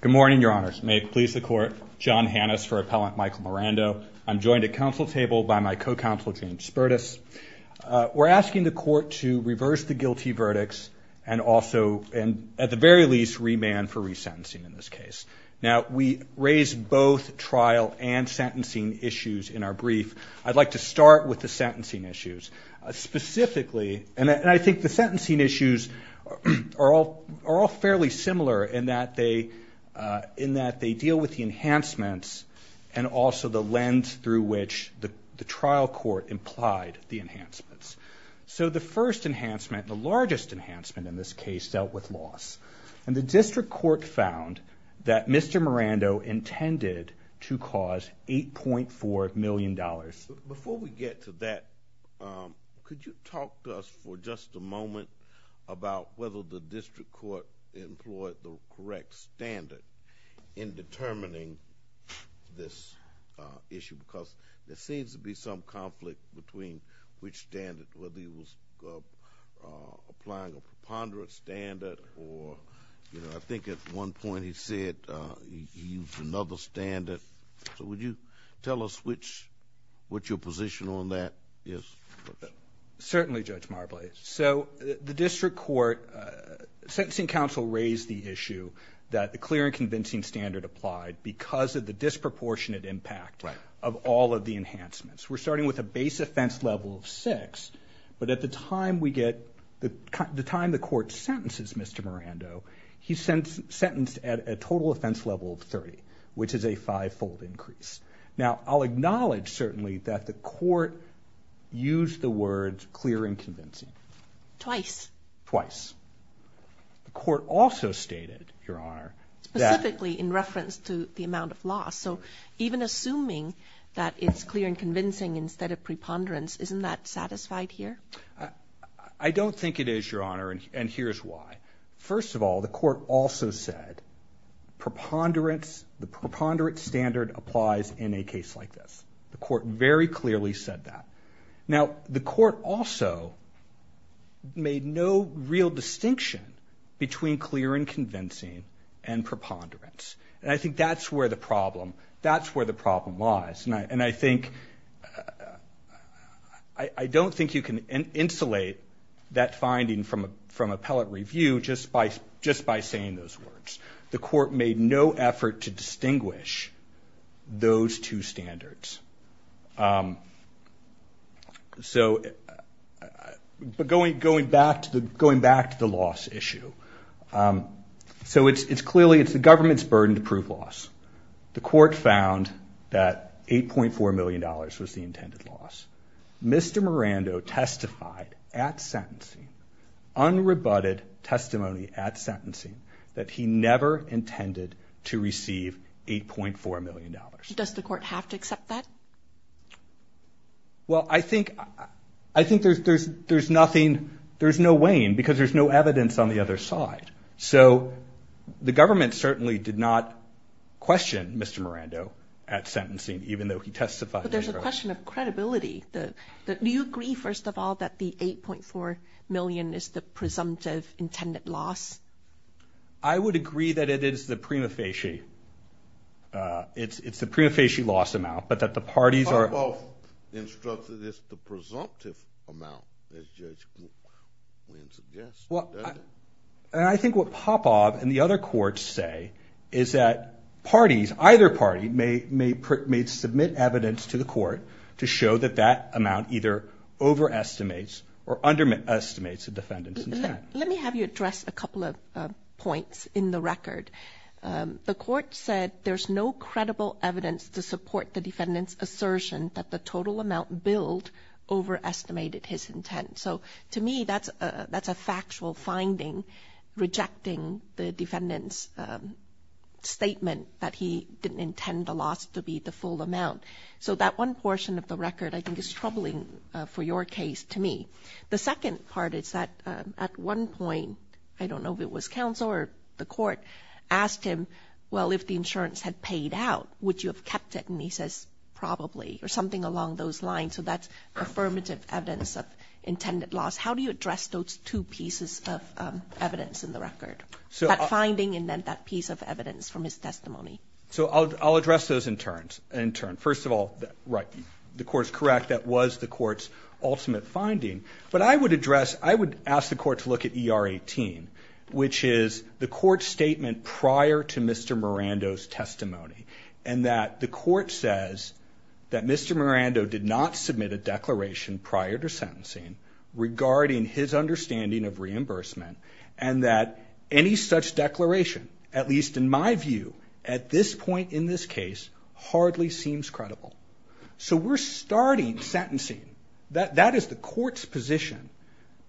Good morning, your honors. May it please the court, John Hannes for Appellant Michael Mirando. I'm joined at council table by my co-counsel, James Spertus. We're asking the court to reverse the guilty verdicts and also, at the very least, remand for resentencing in this case. Now, we raise both trial and sentencing issues in our brief. I'd like to start with the sentencing issues. Specifically, and I think the sentencing issues are all fairly similar in that they deal with the enhancements and also the lens through which the trial court implied the enhancements. So the first enhancement, the largest enhancement in this case, dealt with loss. And the district court found that Mr. Mirando intended to cause $8.4 million. Before we get to that, could you talk to us for just a moment about whether the district court employed the correct standard in determining this issue because there seems to be some conflict between which standard, whether he was applying a preponderant standard or, you know, I think at one point he said he used another standard. So would you tell us what your position on that is? Certainly, Judge Marbley. So the district court sentencing counsel raised the issue that the clear and convincing standard applied because of the disproportionate impact of all of the enhancements. We're starting with a base offense level of 6, but at the time we get the time the court sentences Mr. Mirando, he's sentenced at a total offense level of 30, which is a five-fold increase. Now, I'll acknowledge certainly that the court used the words clear and convincing. Twice. The court also stated, Your Honor, that Specifically in reference to the amount of loss. So even assuming that it's clear and convincing instead of preponderance, isn't that satisfied here? I don't think it is, Your Honor, and here's why. First of all, the court also said preponderance, the preponderance standard applies in a case like this. The court very clearly said that. Now, the court also made no real distinction between clear and convincing and preponderance, and I think that's where the problem lies. And I think, I don't think you can insulate that finding from appellate review just by saying those words. The court made no effort to distinguish those two standards. But going back to the loss issue, so it's clearly, it's the government's burden to prove loss. The court found that $8.4 million was the intended loss. Mr. Miranda testified at sentencing, unrebutted testimony at sentencing, that he never intended to receive $8.4 million. Does the court have to accept that? Well, I think there's nothing, there's no weighing because there's no evidence on the other side. So the government certainly did not question Mr. Miranda at sentencing, even though he testified. But there's a question of credibility. Do you agree, first of all, that the $8.4 million is the presumptive intended loss? I would agree that it is the prima facie. It's the prima facie loss amount, but that the parties are – The court both instructed it's the presumptive amount, as Judge Cook suggests. Well, I think what Popov and the other courts say is that parties, either party, may submit evidence to the court to show that that amount either overestimates or underestimates the defendant's intent. Let me have you address a couple of points in the record. The court said there's no credible evidence to support the defendant's assertion that the total amount billed overestimated his intent. So to me, that's a factual finding, rejecting the defendant's statement that he didn't intend the loss to be the full amount. So that one portion of the record I think is troubling for your case to me. The second part is that at one point, I don't know if it was counsel or the court, asked him, well, if the insurance had paid out, would you have kept it? And he says, probably, or something along those lines. So that's affirmative evidence of intended loss. How do you address those two pieces of evidence in the record? That finding and then that piece of evidence from his testimony? So I'll address those in turn. First of all, right, the court's correct. That was the court's ultimate finding. But I would address – I would ask the court to look at ER 18, which is the court's statement prior to Mr. Miranda's testimony, and that the court says that Mr. Miranda did not submit a declaration prior to sentencing regarding his understanding of reimbursement, and that any such declaration, at least in my view at this point in this case, hardly seems credible. So we're starting sentencing. That is the court's position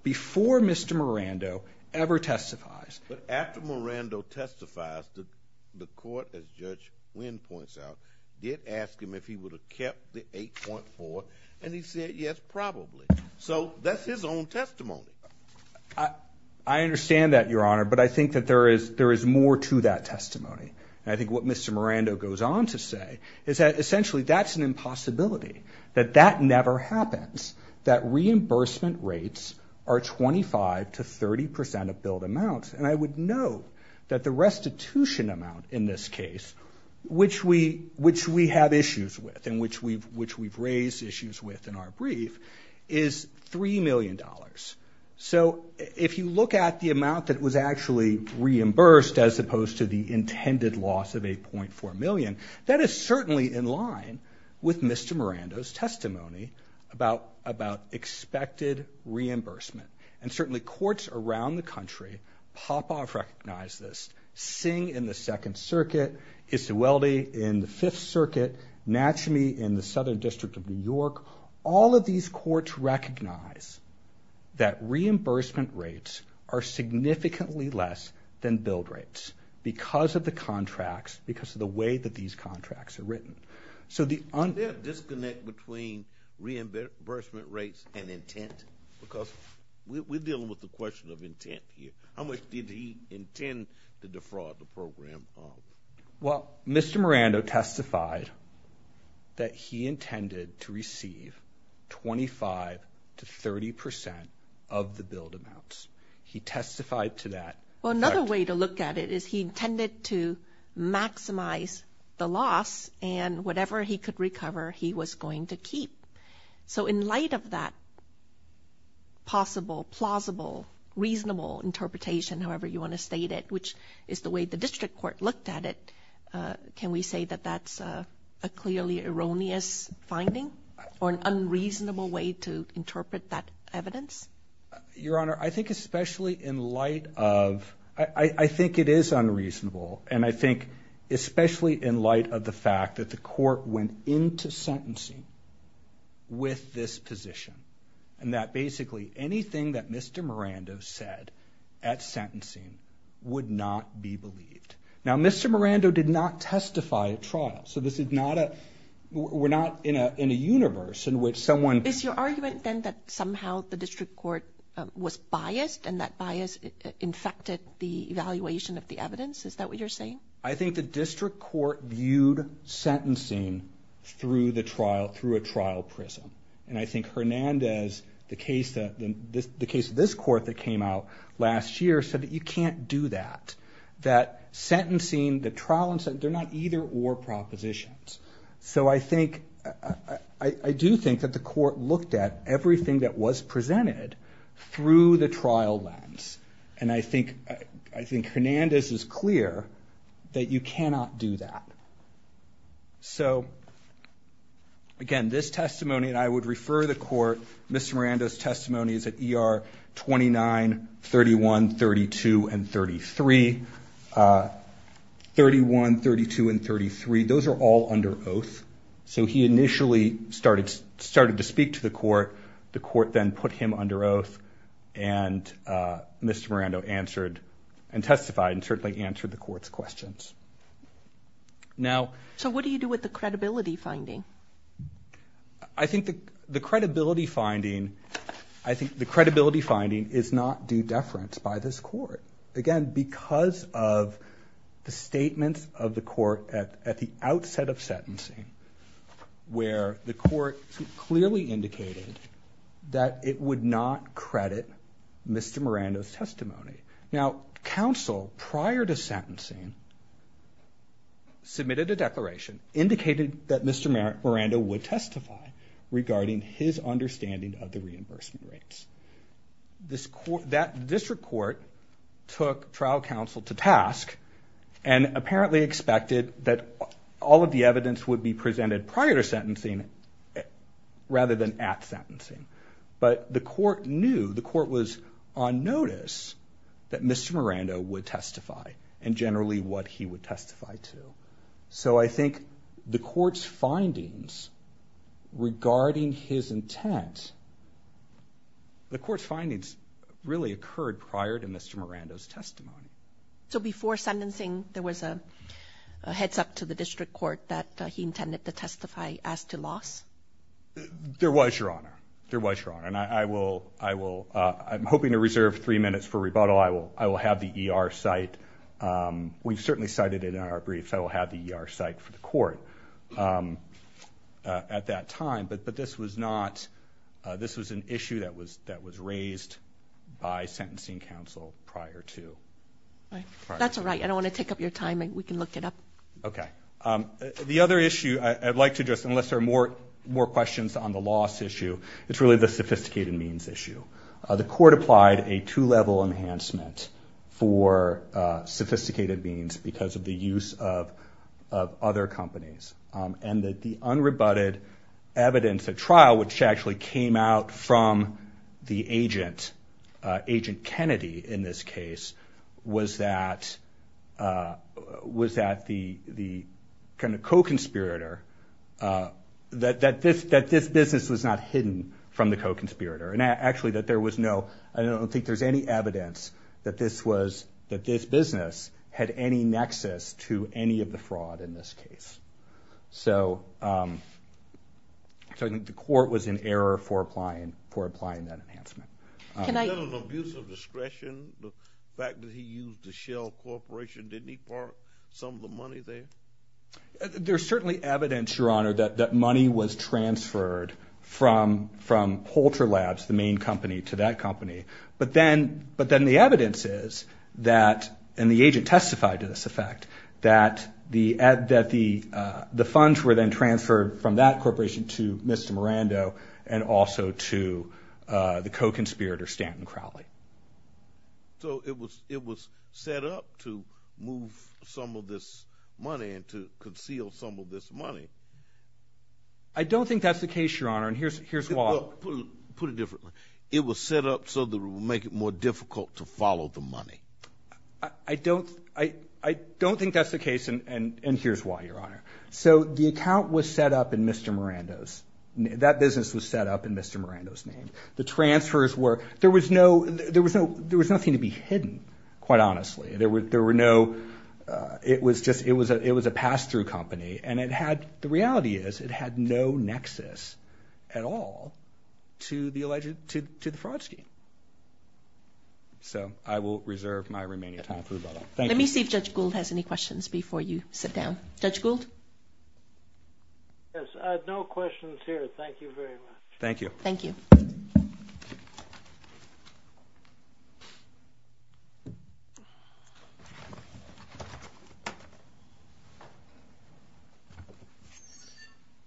before Mr. Miranda ever testifies. But after Miranda testifies, the court, as Judge Wynn points out, did ask him if he would have kept the 8.4, and he said, yes, probably. So that's his own testimony. I understand that, Your Honor, but I think that there is more to that testimony. And I think what Mr. Miranda goes on to say is that essentially that's an impossibility, that that never happens, that reimbursement rates are 25% to 30% of billed amounts. And I would note that the restitution amount in this case, which we have issues with and which we've raised issues with in our brief, is $3 million. So if you look at the amount that was actually reimbursed as opposed to the intended loss of $8.4 million, that is certainly in line with Mr. Miranda's testimony about expected reimbursement. And certainly courts around the country pop off, recognize this. Singh in the Second Circuit, Izzueldi in the Fifth Circuit, Natcheme in the Southern District of New York, all of these courts recognize that reimbursement rates are significantly less than billed rates because of the contracts, because of the way that these contracts are written. Is there a disconnect between reimbursement rates and intent? Because we're dealing with the question of intent here. How much did he intend to defraud the program? Well, Mr. Miranda testified that he intended to receive 25% to 30% of the billed amounts. He testified to that. Well, another way to look at it is he intended to maximize the loss and whatever he could recover, he was going to keep. So in light of that possible, plausible, reasonable interpretation, however you want to state it, which is the way the district court looked at it, can we say that that's a clearly erroneous finding or an unreasonable way to interpret that evidence? Your Honor, I think especially in light of—I think it is unreasonable, and I think especially in light of the fact that the court went into sentencing with this position and that basically anything that Mr. Miranda said at sentencing would not be believed. Now, Mr. Miranda did not testify at trial, so this is not a—we're not in a universe in which someone— Is your argument, then, that somehow the district court was biased and that bias infected the evaluation of the evidence? Is that what you're saying? I think the district court viewed sentencing through a trial prism, and I think Hernandez, the case of this court that came out last year, said that you can't do that, that sentencing, the trial—they're not either-or propositions. So I think—I do think that the court looked at everything that was presented through the trial lens, and I think Hernandez is clear that you cannot do that. So, again, this testimony, and I would refer the court, Mr. Miranda's testimony is at ER 29, 31, 32, and 33. Those are all under oath. So he initially started to speak to the court. The court then put him under oath, and Mr. Miranda answered and testified and certainly answered the court's questions. So what do you do with the credibility finding? I think the credibility finding is not due deference by this court. Again, because of the statements of the court at the outset of sentencing, where the court clearly indicated that it would not credit Mr. Miranda's testimony. Now, counsel, prior to sentencing, submitted a declaration, indicated that Mr. Miranda would testify regarding his understanding of the reimbursement rates. This court—that district court took trial counsel to task and apparently expected that all of the evidence would be presented prior to sentencing rather than at sentencing. But the court knew—the court was on notice that Mr. Miranda would testify and generally what he would testify to. So I think the court's findings regarding his intent— the court's findings really occurred prior to Mr. Miranda's testimony. So before sentencing, there was a heads-up to the district court that he intended to testify as to loss? There was, Your Honor. There was, Your Honor. And I will—I'm hoping to reserve three minutes for rebuttal. I will have the ER cite. We've certainly cited it in our brief. I will have the ER cite for the court at that time. But this was not—this was an issue that was raised by sentencing counsel prior to— That's all right. I don't want to take up your time. We can look it up. Okay. The other issue I'd like to address, unless there are more questions on the loss issue, it's really the sophisticated means issue. The court applied a two-level enhancement for sophisticated means because of the use of other companies, and that the unrebutted evidence at trial, which actually came out from the agent, Agent Kennedy in this case, was that the co-conspirator— that this business was not hidden from the co-conspirator. And actually that there was no— I don't think there's any evidence that this was— that this business had any nexus to any of the fraud in this case. So I think the court was in error for applying that enhancement. Can I— Was that an abuse of discretion, the fact that he used the Shell Corporation? Didn't he borrow some of the money there? There's certainly evidence, Your Honor, that money was transferred from Holter Labs, the main company, to that company. But then the evidence is that—and the agent testified to this effect— that the funds were then transferred from that corporation to Mr. Miranda and also to the co-conspirator, Stanton Crowley. So it was set up to move some of this money and to conceal some of this money. I don't think that's the case, Your Honor, and here's why. Put it differently. It was set up so that it would make it more difficult to follow the money. I don't think that's the case, and here's why, Your Honor. So the account was set up in Mr. Miranda's— that business was set up in Mr. Miranda's name. The transfers were—there was no—there was nothing to be hidden, quite honestly. There were no—it was just—it was a pass-through company, and it had—the reality is it had no nexus at all to the fraud scheme. So I will reserve my remaining time for that. Let me see if Judge Gould has any questions before you sit down. Judge Gould? Yes, I have no questions here. Thank you very much. Thank you. Thank you.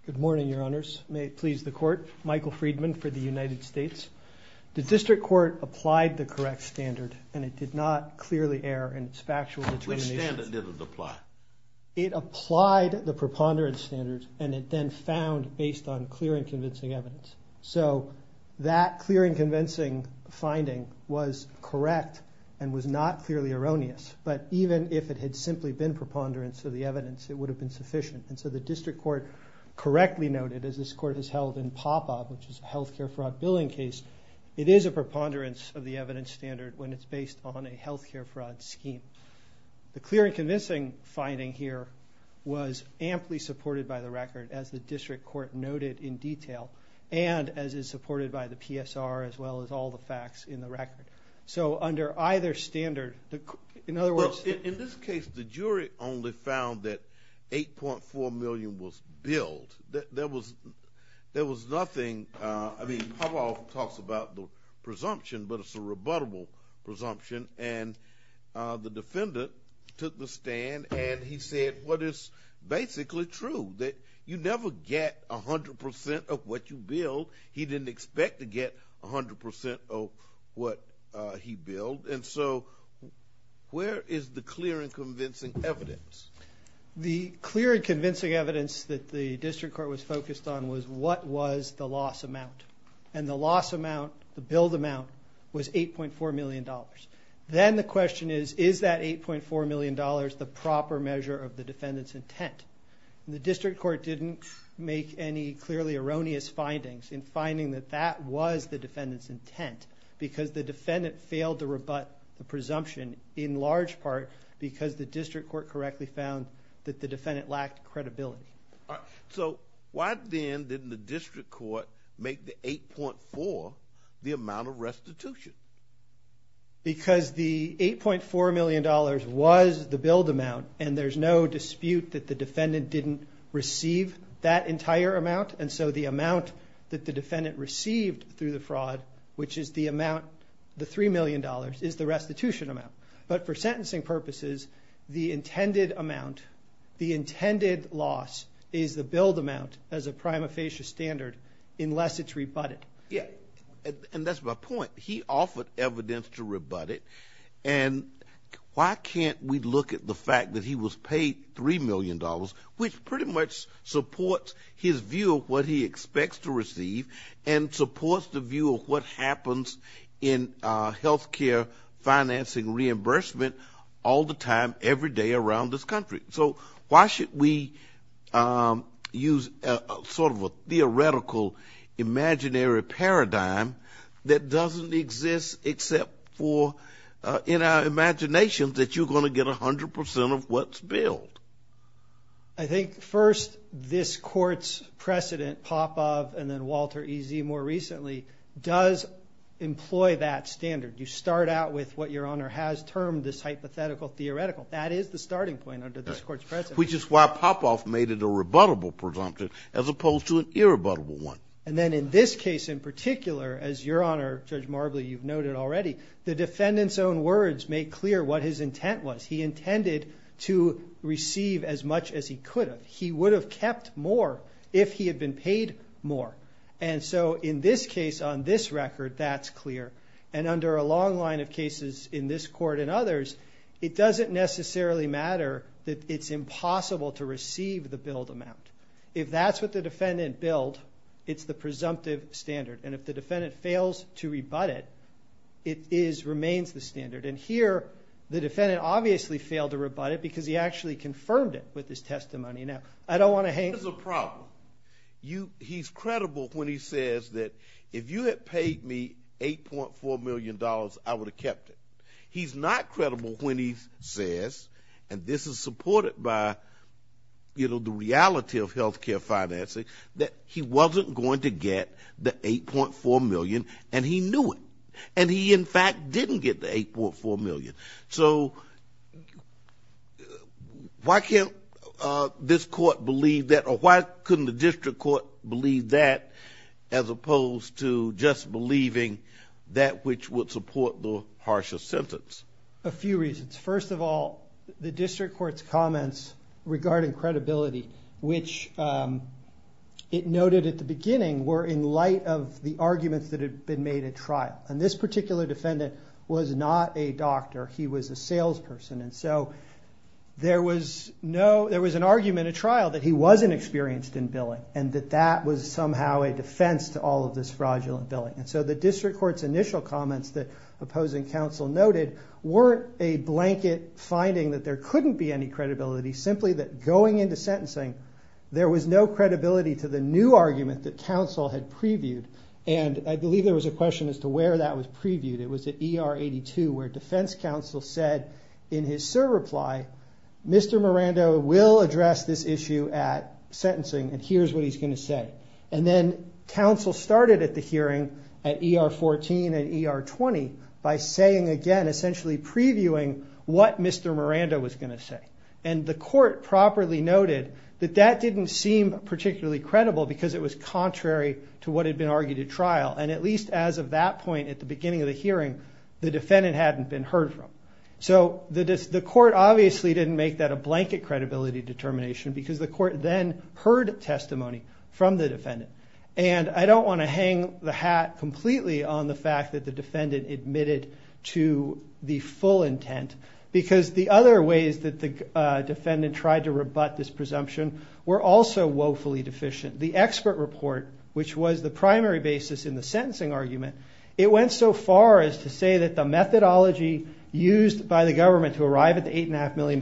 Good morning, Your Honors. May it please the Court. Michael Friedman for the United States. The district court applied the correct standard, and it did not clearly err in its factual determination. Which standard did it apply? It applied the preponderance standard, and it then found based on clear and convincing evidence. So that clear and convincing finding was correct and was not clearly erroneous. But even if it had simply been preponderance of the evidence, it would have been sufficient. And so the district court correctly noted, as this court has held in Popov, which is a health care fraud billing case, it is a preponderance of the evidence standard when it's based on a health care fraud scheme. The clear and convincing finding here was amply supported by the record, as the district court noted in detail, and as is supported by the PSR, as well as all the facts in the record. So under either standard, in other words. Well, in this case, the jury only found that $8.4 million was billed. There was nothing. I mean, Popov talks about the presumption, but it's a rebuttable presumption. And the defendant took the stand, and he said what is basically true, that you never get 100% of what you bill. He didn't expect to get 100% of what he billed. And so where is the clear and convincing evidence? The clear and convincing evidence that the district court was focused on was what was the loss amount. And the loss amount, the billed amount, was $8.4 million. Then the question is, is that $8.4 million the proper measure of the defendant's intent? The district court didn't make any clearly erroneous findings in finding that that was the defendant's intent because the defendant failed to rebut the presumption, in large part because the district court correctly found that the defendant lacked credibility. So why then didn't the district court make the $8.4 the amount of restitution? Because the $8.4 million was the billed amount, and there's no dispute that the defendant didn't receive that entire amount. And so the amount that the defendant received through the fraud, which is the amount, the $3 million, is the restitution amount. But for sentencing purposes, the intended amount, the intended loss, is the billed amount as a prima facie standard unless it's rebutted. Yeah, and that's my point. He offered evidence to rebut it, and why can't we look at the fact that he was paid $3 million, which pretty much supports his view of what he expects to receive and supports the view of what happens in health care financing reimbursement all the time every day around this country. So why should we use sort of a theoretical imaginary paradigm that doesn't exist except for in our imaginations that you're going to get 100 percent of what's billed? I think, first, this Court's precedent, Popov and then Walter E. Z. more recently, does employ that standard. You start out with what Your Honor has termed this hypothetical theoretical. That is the starting point under this Court's precedent. Which is why Popov made it a rebuttable presumption as opposed to an irrebuttable one. And then in this case in particular, as Your Honor, Judge Marbley, you've noted already, the defendant's own words make clear what his intent was. He intended to receive as much as he could have. He would have kept more if he had been paid more. And so in this case, on this record, that's clear. And under a long line of cases in this Court and others, it doesn't necessarily matter that it's impossible to receive the billed amount. If that's what the defendant billed, it's the presumptive standard. And if the defendant fails to rebut it, it remains the standard. And here, the defendant obviously failed to rebut it because he actually confirmed it with his testimony. Now, I don't want to hang... There's a problem. He's credible when he says that if you had paid me $8.4 million, I would have kept it. He's not credible when he says, and this is supported by, you know, the reality of health care financing, that he wasn't going to get the $8.4 million, and he knew it. And he, in fact, didn't get the $8.4 million. So why can't this Court believe that, or why couldn't the district court believe that, as opposed to just believing that which would support the harsher sentence? A few reasons. First of all, the district court's comments regarding credibility, which it noted at the beginning, were in light of the arguments that had been made at trial. And this particular defendant was not a doctor. He was a salesperson. And so there was an argument at trial that he wasn't experienced in billing and that that was somehow a defense to all of this fraudulent billing. And so the district court's initial comments that opposing counsel noted weren't a blanket finding that there couldn't be any credibility, simply that going into sentencing, there was no credibility to the new argument that counsel had previewed. And I believe there was a question as to where that was previewed. It was at ER 82, where defense counsel said in his serve reply, Mr. Miranda will address this issue at sentencing and here's what he's going to say. And then counsel started at the hearing at ER 14 and ER 20 by saying again, essentially previewing what Mr. Miranda was going to say. And the court properly noted that that didn't seem particularly credible because it was contrary to what had been argued at trial. And at least as of that point at the beginning of the hearing, the defendant hadn't been heard from. So the court obviously didn't make that a blanket credibility determination because the court then heard testimony from the defendant. And I don't want to hang the hat completely on the fact that the defendant admitted to the full intent because the other ways that the defendant tried to rebut this presumption were also woefully deficient. The expert report, which was the primary basis in the sentencing argument, it went so far as to say that the methodology used by the government to arrive at the $8.5 million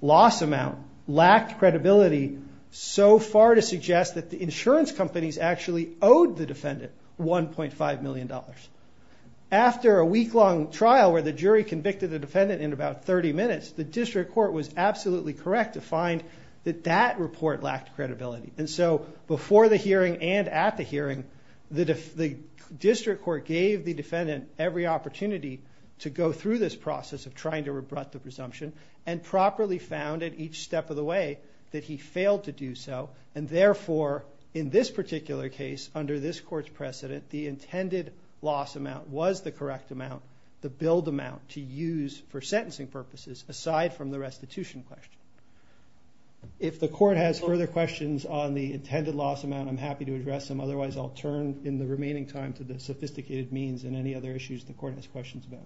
loss amount lacked credibility so far to suggest that the insurance companies actually owed the defendant $1.5 million. After a week-long trial where the jury convicted the defendant in about 30 minutes, the district court was absolutely correct to find that that report lacked credibility. And so before the hearing and at the hearing, the district court gave the defendant every opportunity to go through this process of trying to rebut the presumption and properly found at each step of the way that he failed to do so. And therefore, in this particular case, under this court's precedent, the intended loss amount was the correct amount, the billed amount to use for sentencing purposes aside from the restitution question. If the court has further questions on the intended loss amount, I'm happy to address them. Otherwise, I'll turn in the remaining time to the sophisticated means and any other issues the court has questions about.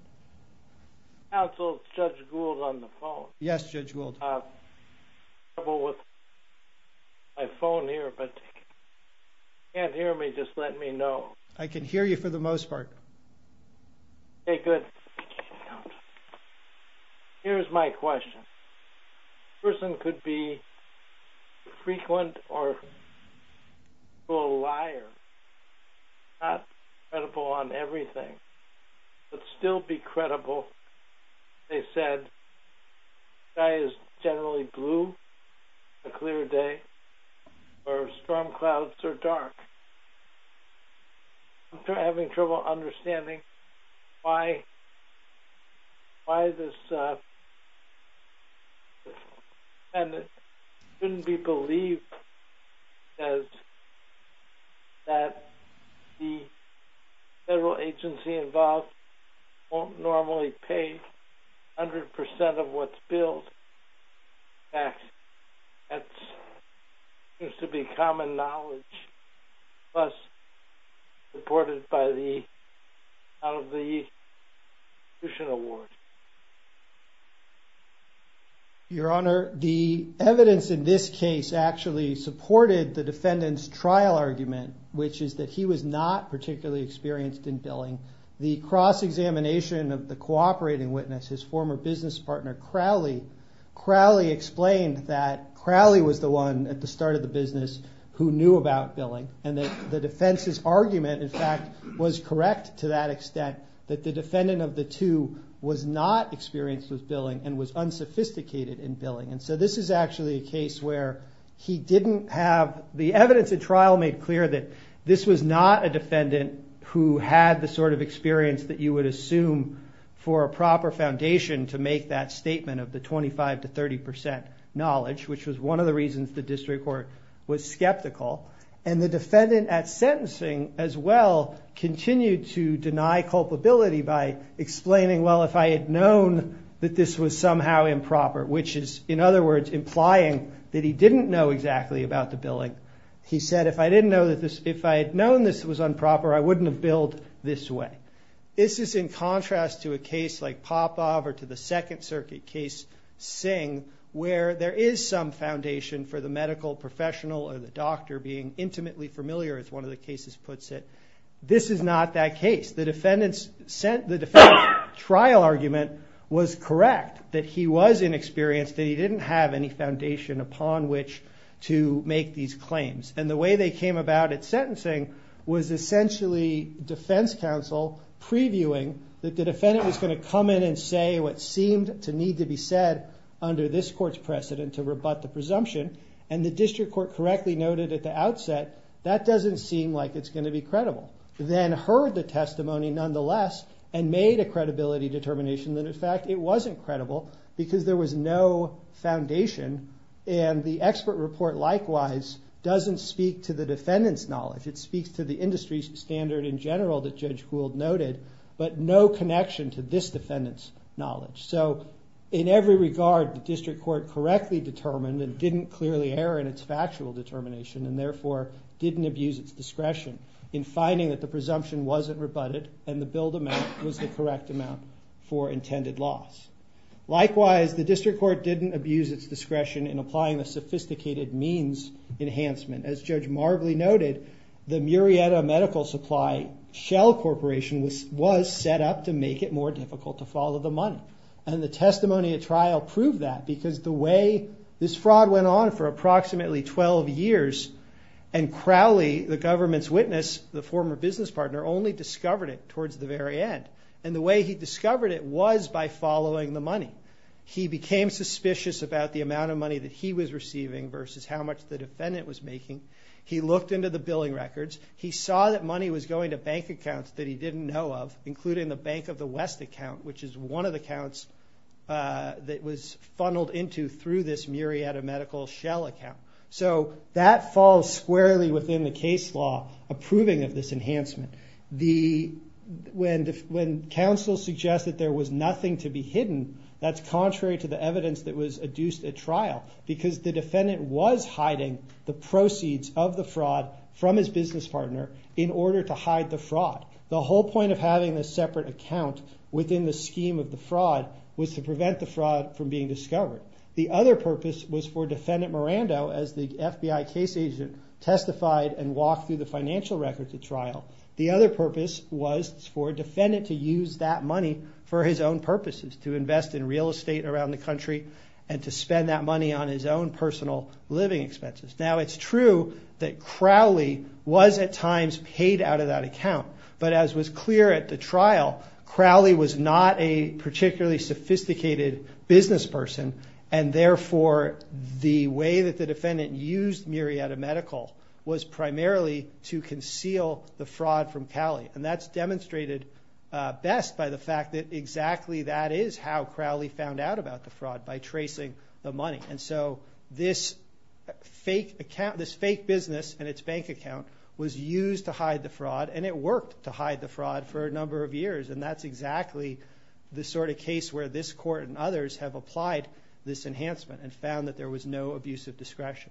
Counsel, Judge Gould on the phone. Yes, Judge Gould. I have trouble with my phone here, but if you can't hear me, just let me know. I can hear you for the most part. Okay, good. Here's my question. A person could be frequent or a liar, not credible on everything, but still be credible. They said the sky is generally blue on a clear day or storm clouds are dark. I'm having trouble understanding why this shouldn't be believed as that the federal agency involved won't normally pay 100% of what's billed. That seems to be common knowledge, thus supported by the out of the institution award. Your Honor, the evidence in this case actually supported the defendant's trial argument, which is that he was not particularly experienced in billing. The cross-examination of the cooperating witness, his former business partner Crowley, Crowley explained that Crowley was the one at the start of the business who knew about billing. The defense's argument, in fact, was correct to that extent, that the defendant of the two was not experienced with billing and was unsophisticated in billing. This is actually a case where he didn't have the evidence at trial made clear that this was not a defendant who had the sort of experience that you would assume for a proper foundation to make that statement of the 25 to 30% knowledge, which was one of the reasons the district court was skeptical. The defendant at sentencing, as well, continued to deny culpability by explaining, well, if I had known that this was somehow improper, which is, in other words, implying that he didn't know exactly about the billing. He said, if I had known this was improper, I wouldn't have billed this way. This is in contrast to a case like Popov or to the Second Circuit case, Singh, where there is some foundation for the medical professional or the doctor being intimately familiar, as one of the cases puts it. This is not that case. The defendant's trial argument was correct, that he was inexperienced, that he didn't have any foundation upon which to make these claims. And the way they came about at sentencing was essentially defense counsel previewing that the defendant was going to come in and say what seemed to need to be said under this court's precedent to rebut the presumption. And the district court correctly noted at the outset, that doesn't seem like it's going to be credible. Then heard the testimony, nonetheless, and made a credibility determination that, in fact, it wasn't credible because there was no foundation. And the expert report, likewise, doesn't speak to the defendant's knowledge. It speaks to the industry standard in general that Judge Gould noted, but no connection to this defendant's knowledge. So in every regard, the district court correctly determined and didn't clearly err in its factual determination, and therefore didn't abuse its discretion in finding that the presumption wasn't rebutted and the billed amount was the correct amount for intended loss. Likewise, the district court didn't abuse its discretion in applying the sophisticated means enhancement. As Judge Marbley noted, the Murrieta Medical Supply Shell Corporation was set up to make it more difficult to follow the money. And the testimony at trial proved that because the way this fraud went on for approximately 12 years, and Crowley, the government's witness, the former business partner, only discovered it towards the very end. And the way he discovered it was by following the money. He became suspicious about the amount of money that he was receiving versus how much the defendant was making. He looked into the billing records. He saw that money was going to bank accounts that he didn't know of, including the Bank of the West account, which is one of the accounts that was funneled into through this Murrieta Medical Shell account. So that falls squarely within the case law approving of this enhancement. When counsel suggests that there was nothing to be hidden, that's contrary to the evidence that was adduced at trial because the defendant was hiding the proceeds of the fraud from his business partner in order to hide the fraud. The whole point of having this separate account within the scheme of the fraud was to prevent the fraud from being discovered. The other purpose was for Defendant Miranda, as the FBI case agent, testified and walked through the financial records at trial. The other purpose was for Defendant to use that money for his own purposes, to invest in real estate around the country and to spend that money on his own personal living expenses. Now it's true that Crowley was at times paid out of that account, but as was clear at the trial, Crowley was not a particularly sophisticated business person and therefore the way that the defendant used Murrieta Medical was primarily to conceal the fraud from Cowley. And that's demonstrated best by the fact that exactly that is how Crowley found out about the fraud, by tracing the money. And so this fake business and its bank account was used to hide the fraud and it worked to hide the fraud for a number of years. And that's exactly the sort of case where this court and others have applied this enhancement and found that there was no abuse of discretion.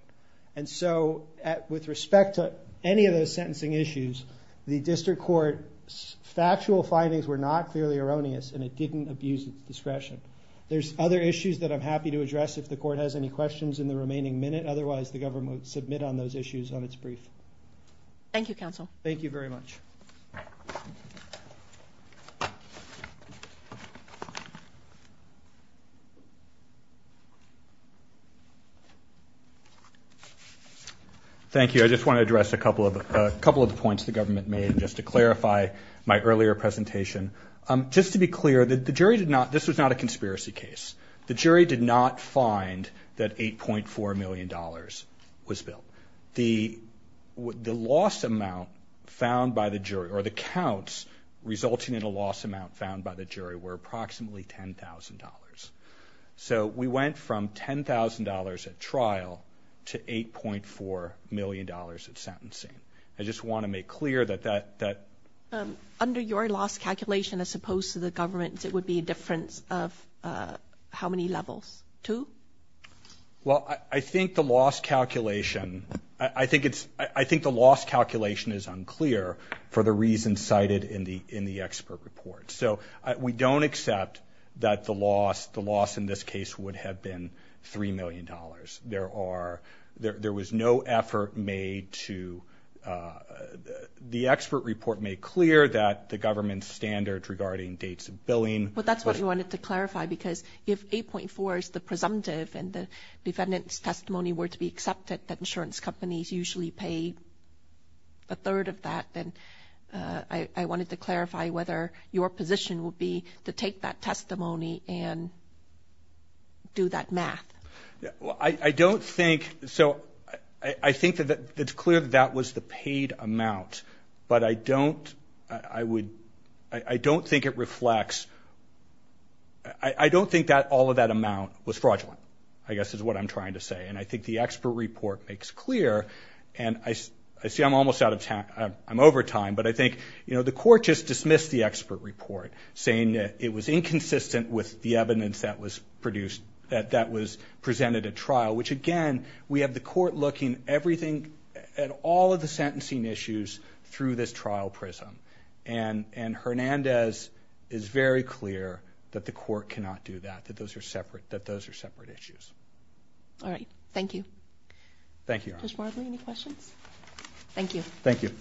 And so with respect to any of those sentencing issues, the District Court's factual findings were not clearly erroneous and it didn't abuse its discretion. There's other issues that I'm happy to address if the court has any questions in the remaining minute, otherwise the government would submit on those issues on its brief. Thank you, Counsel. Thank you very much. Thank you. I just want to address a couple of the points the government made just to clarify my earlier presentation. Just to be clear, this was not a conspiracy case. The jury did not find that $8.4 million was built. The loss amount found by the jury, or the counts resulting in a loss amount found by the jury, were approximately $10,000. So we went from $10,000 at trial to $8.4 million at sentencing. I just want to make clear that that... Under your loss calculation as opposed to the government's, it would be a difference of how many levels? Two? Well, I think the loss calculation is unclear for the reasons cited in the expert report. So we don't accept that the loss in this case would have been $3 million. There was no effort made to... The expert report made clear that the government's standards regarding dates of billing... Well, that's what we wanted to clarify, because if $8.4 is the presumptive and the defendant's testimony were to be accepted, that insurance companies usually pay a third of that, then I wanted to clarify whether your position would be to take that testimony and do that math. Well, I don't think... So I think that it's clear that that was the paid amount, but I don't think it reflects... I don't think all of that amount was fraudulent, I guess is what I'm trying to say. And I think the expert report makes clear... I see I'm almost out of time. I'm over time, but I think the court just dismissed the expert report, saying that it was inconsistent with the evidence that was produced... that was presented at trial, which, again, we have the court looking at all of the sentencing issues through this trial prism. And Hernandez is very clear that the court cannot do that, that those are separate issues. All right. Thank you. Thank you. Judge Marbley, any questions? Thank you. Thank you.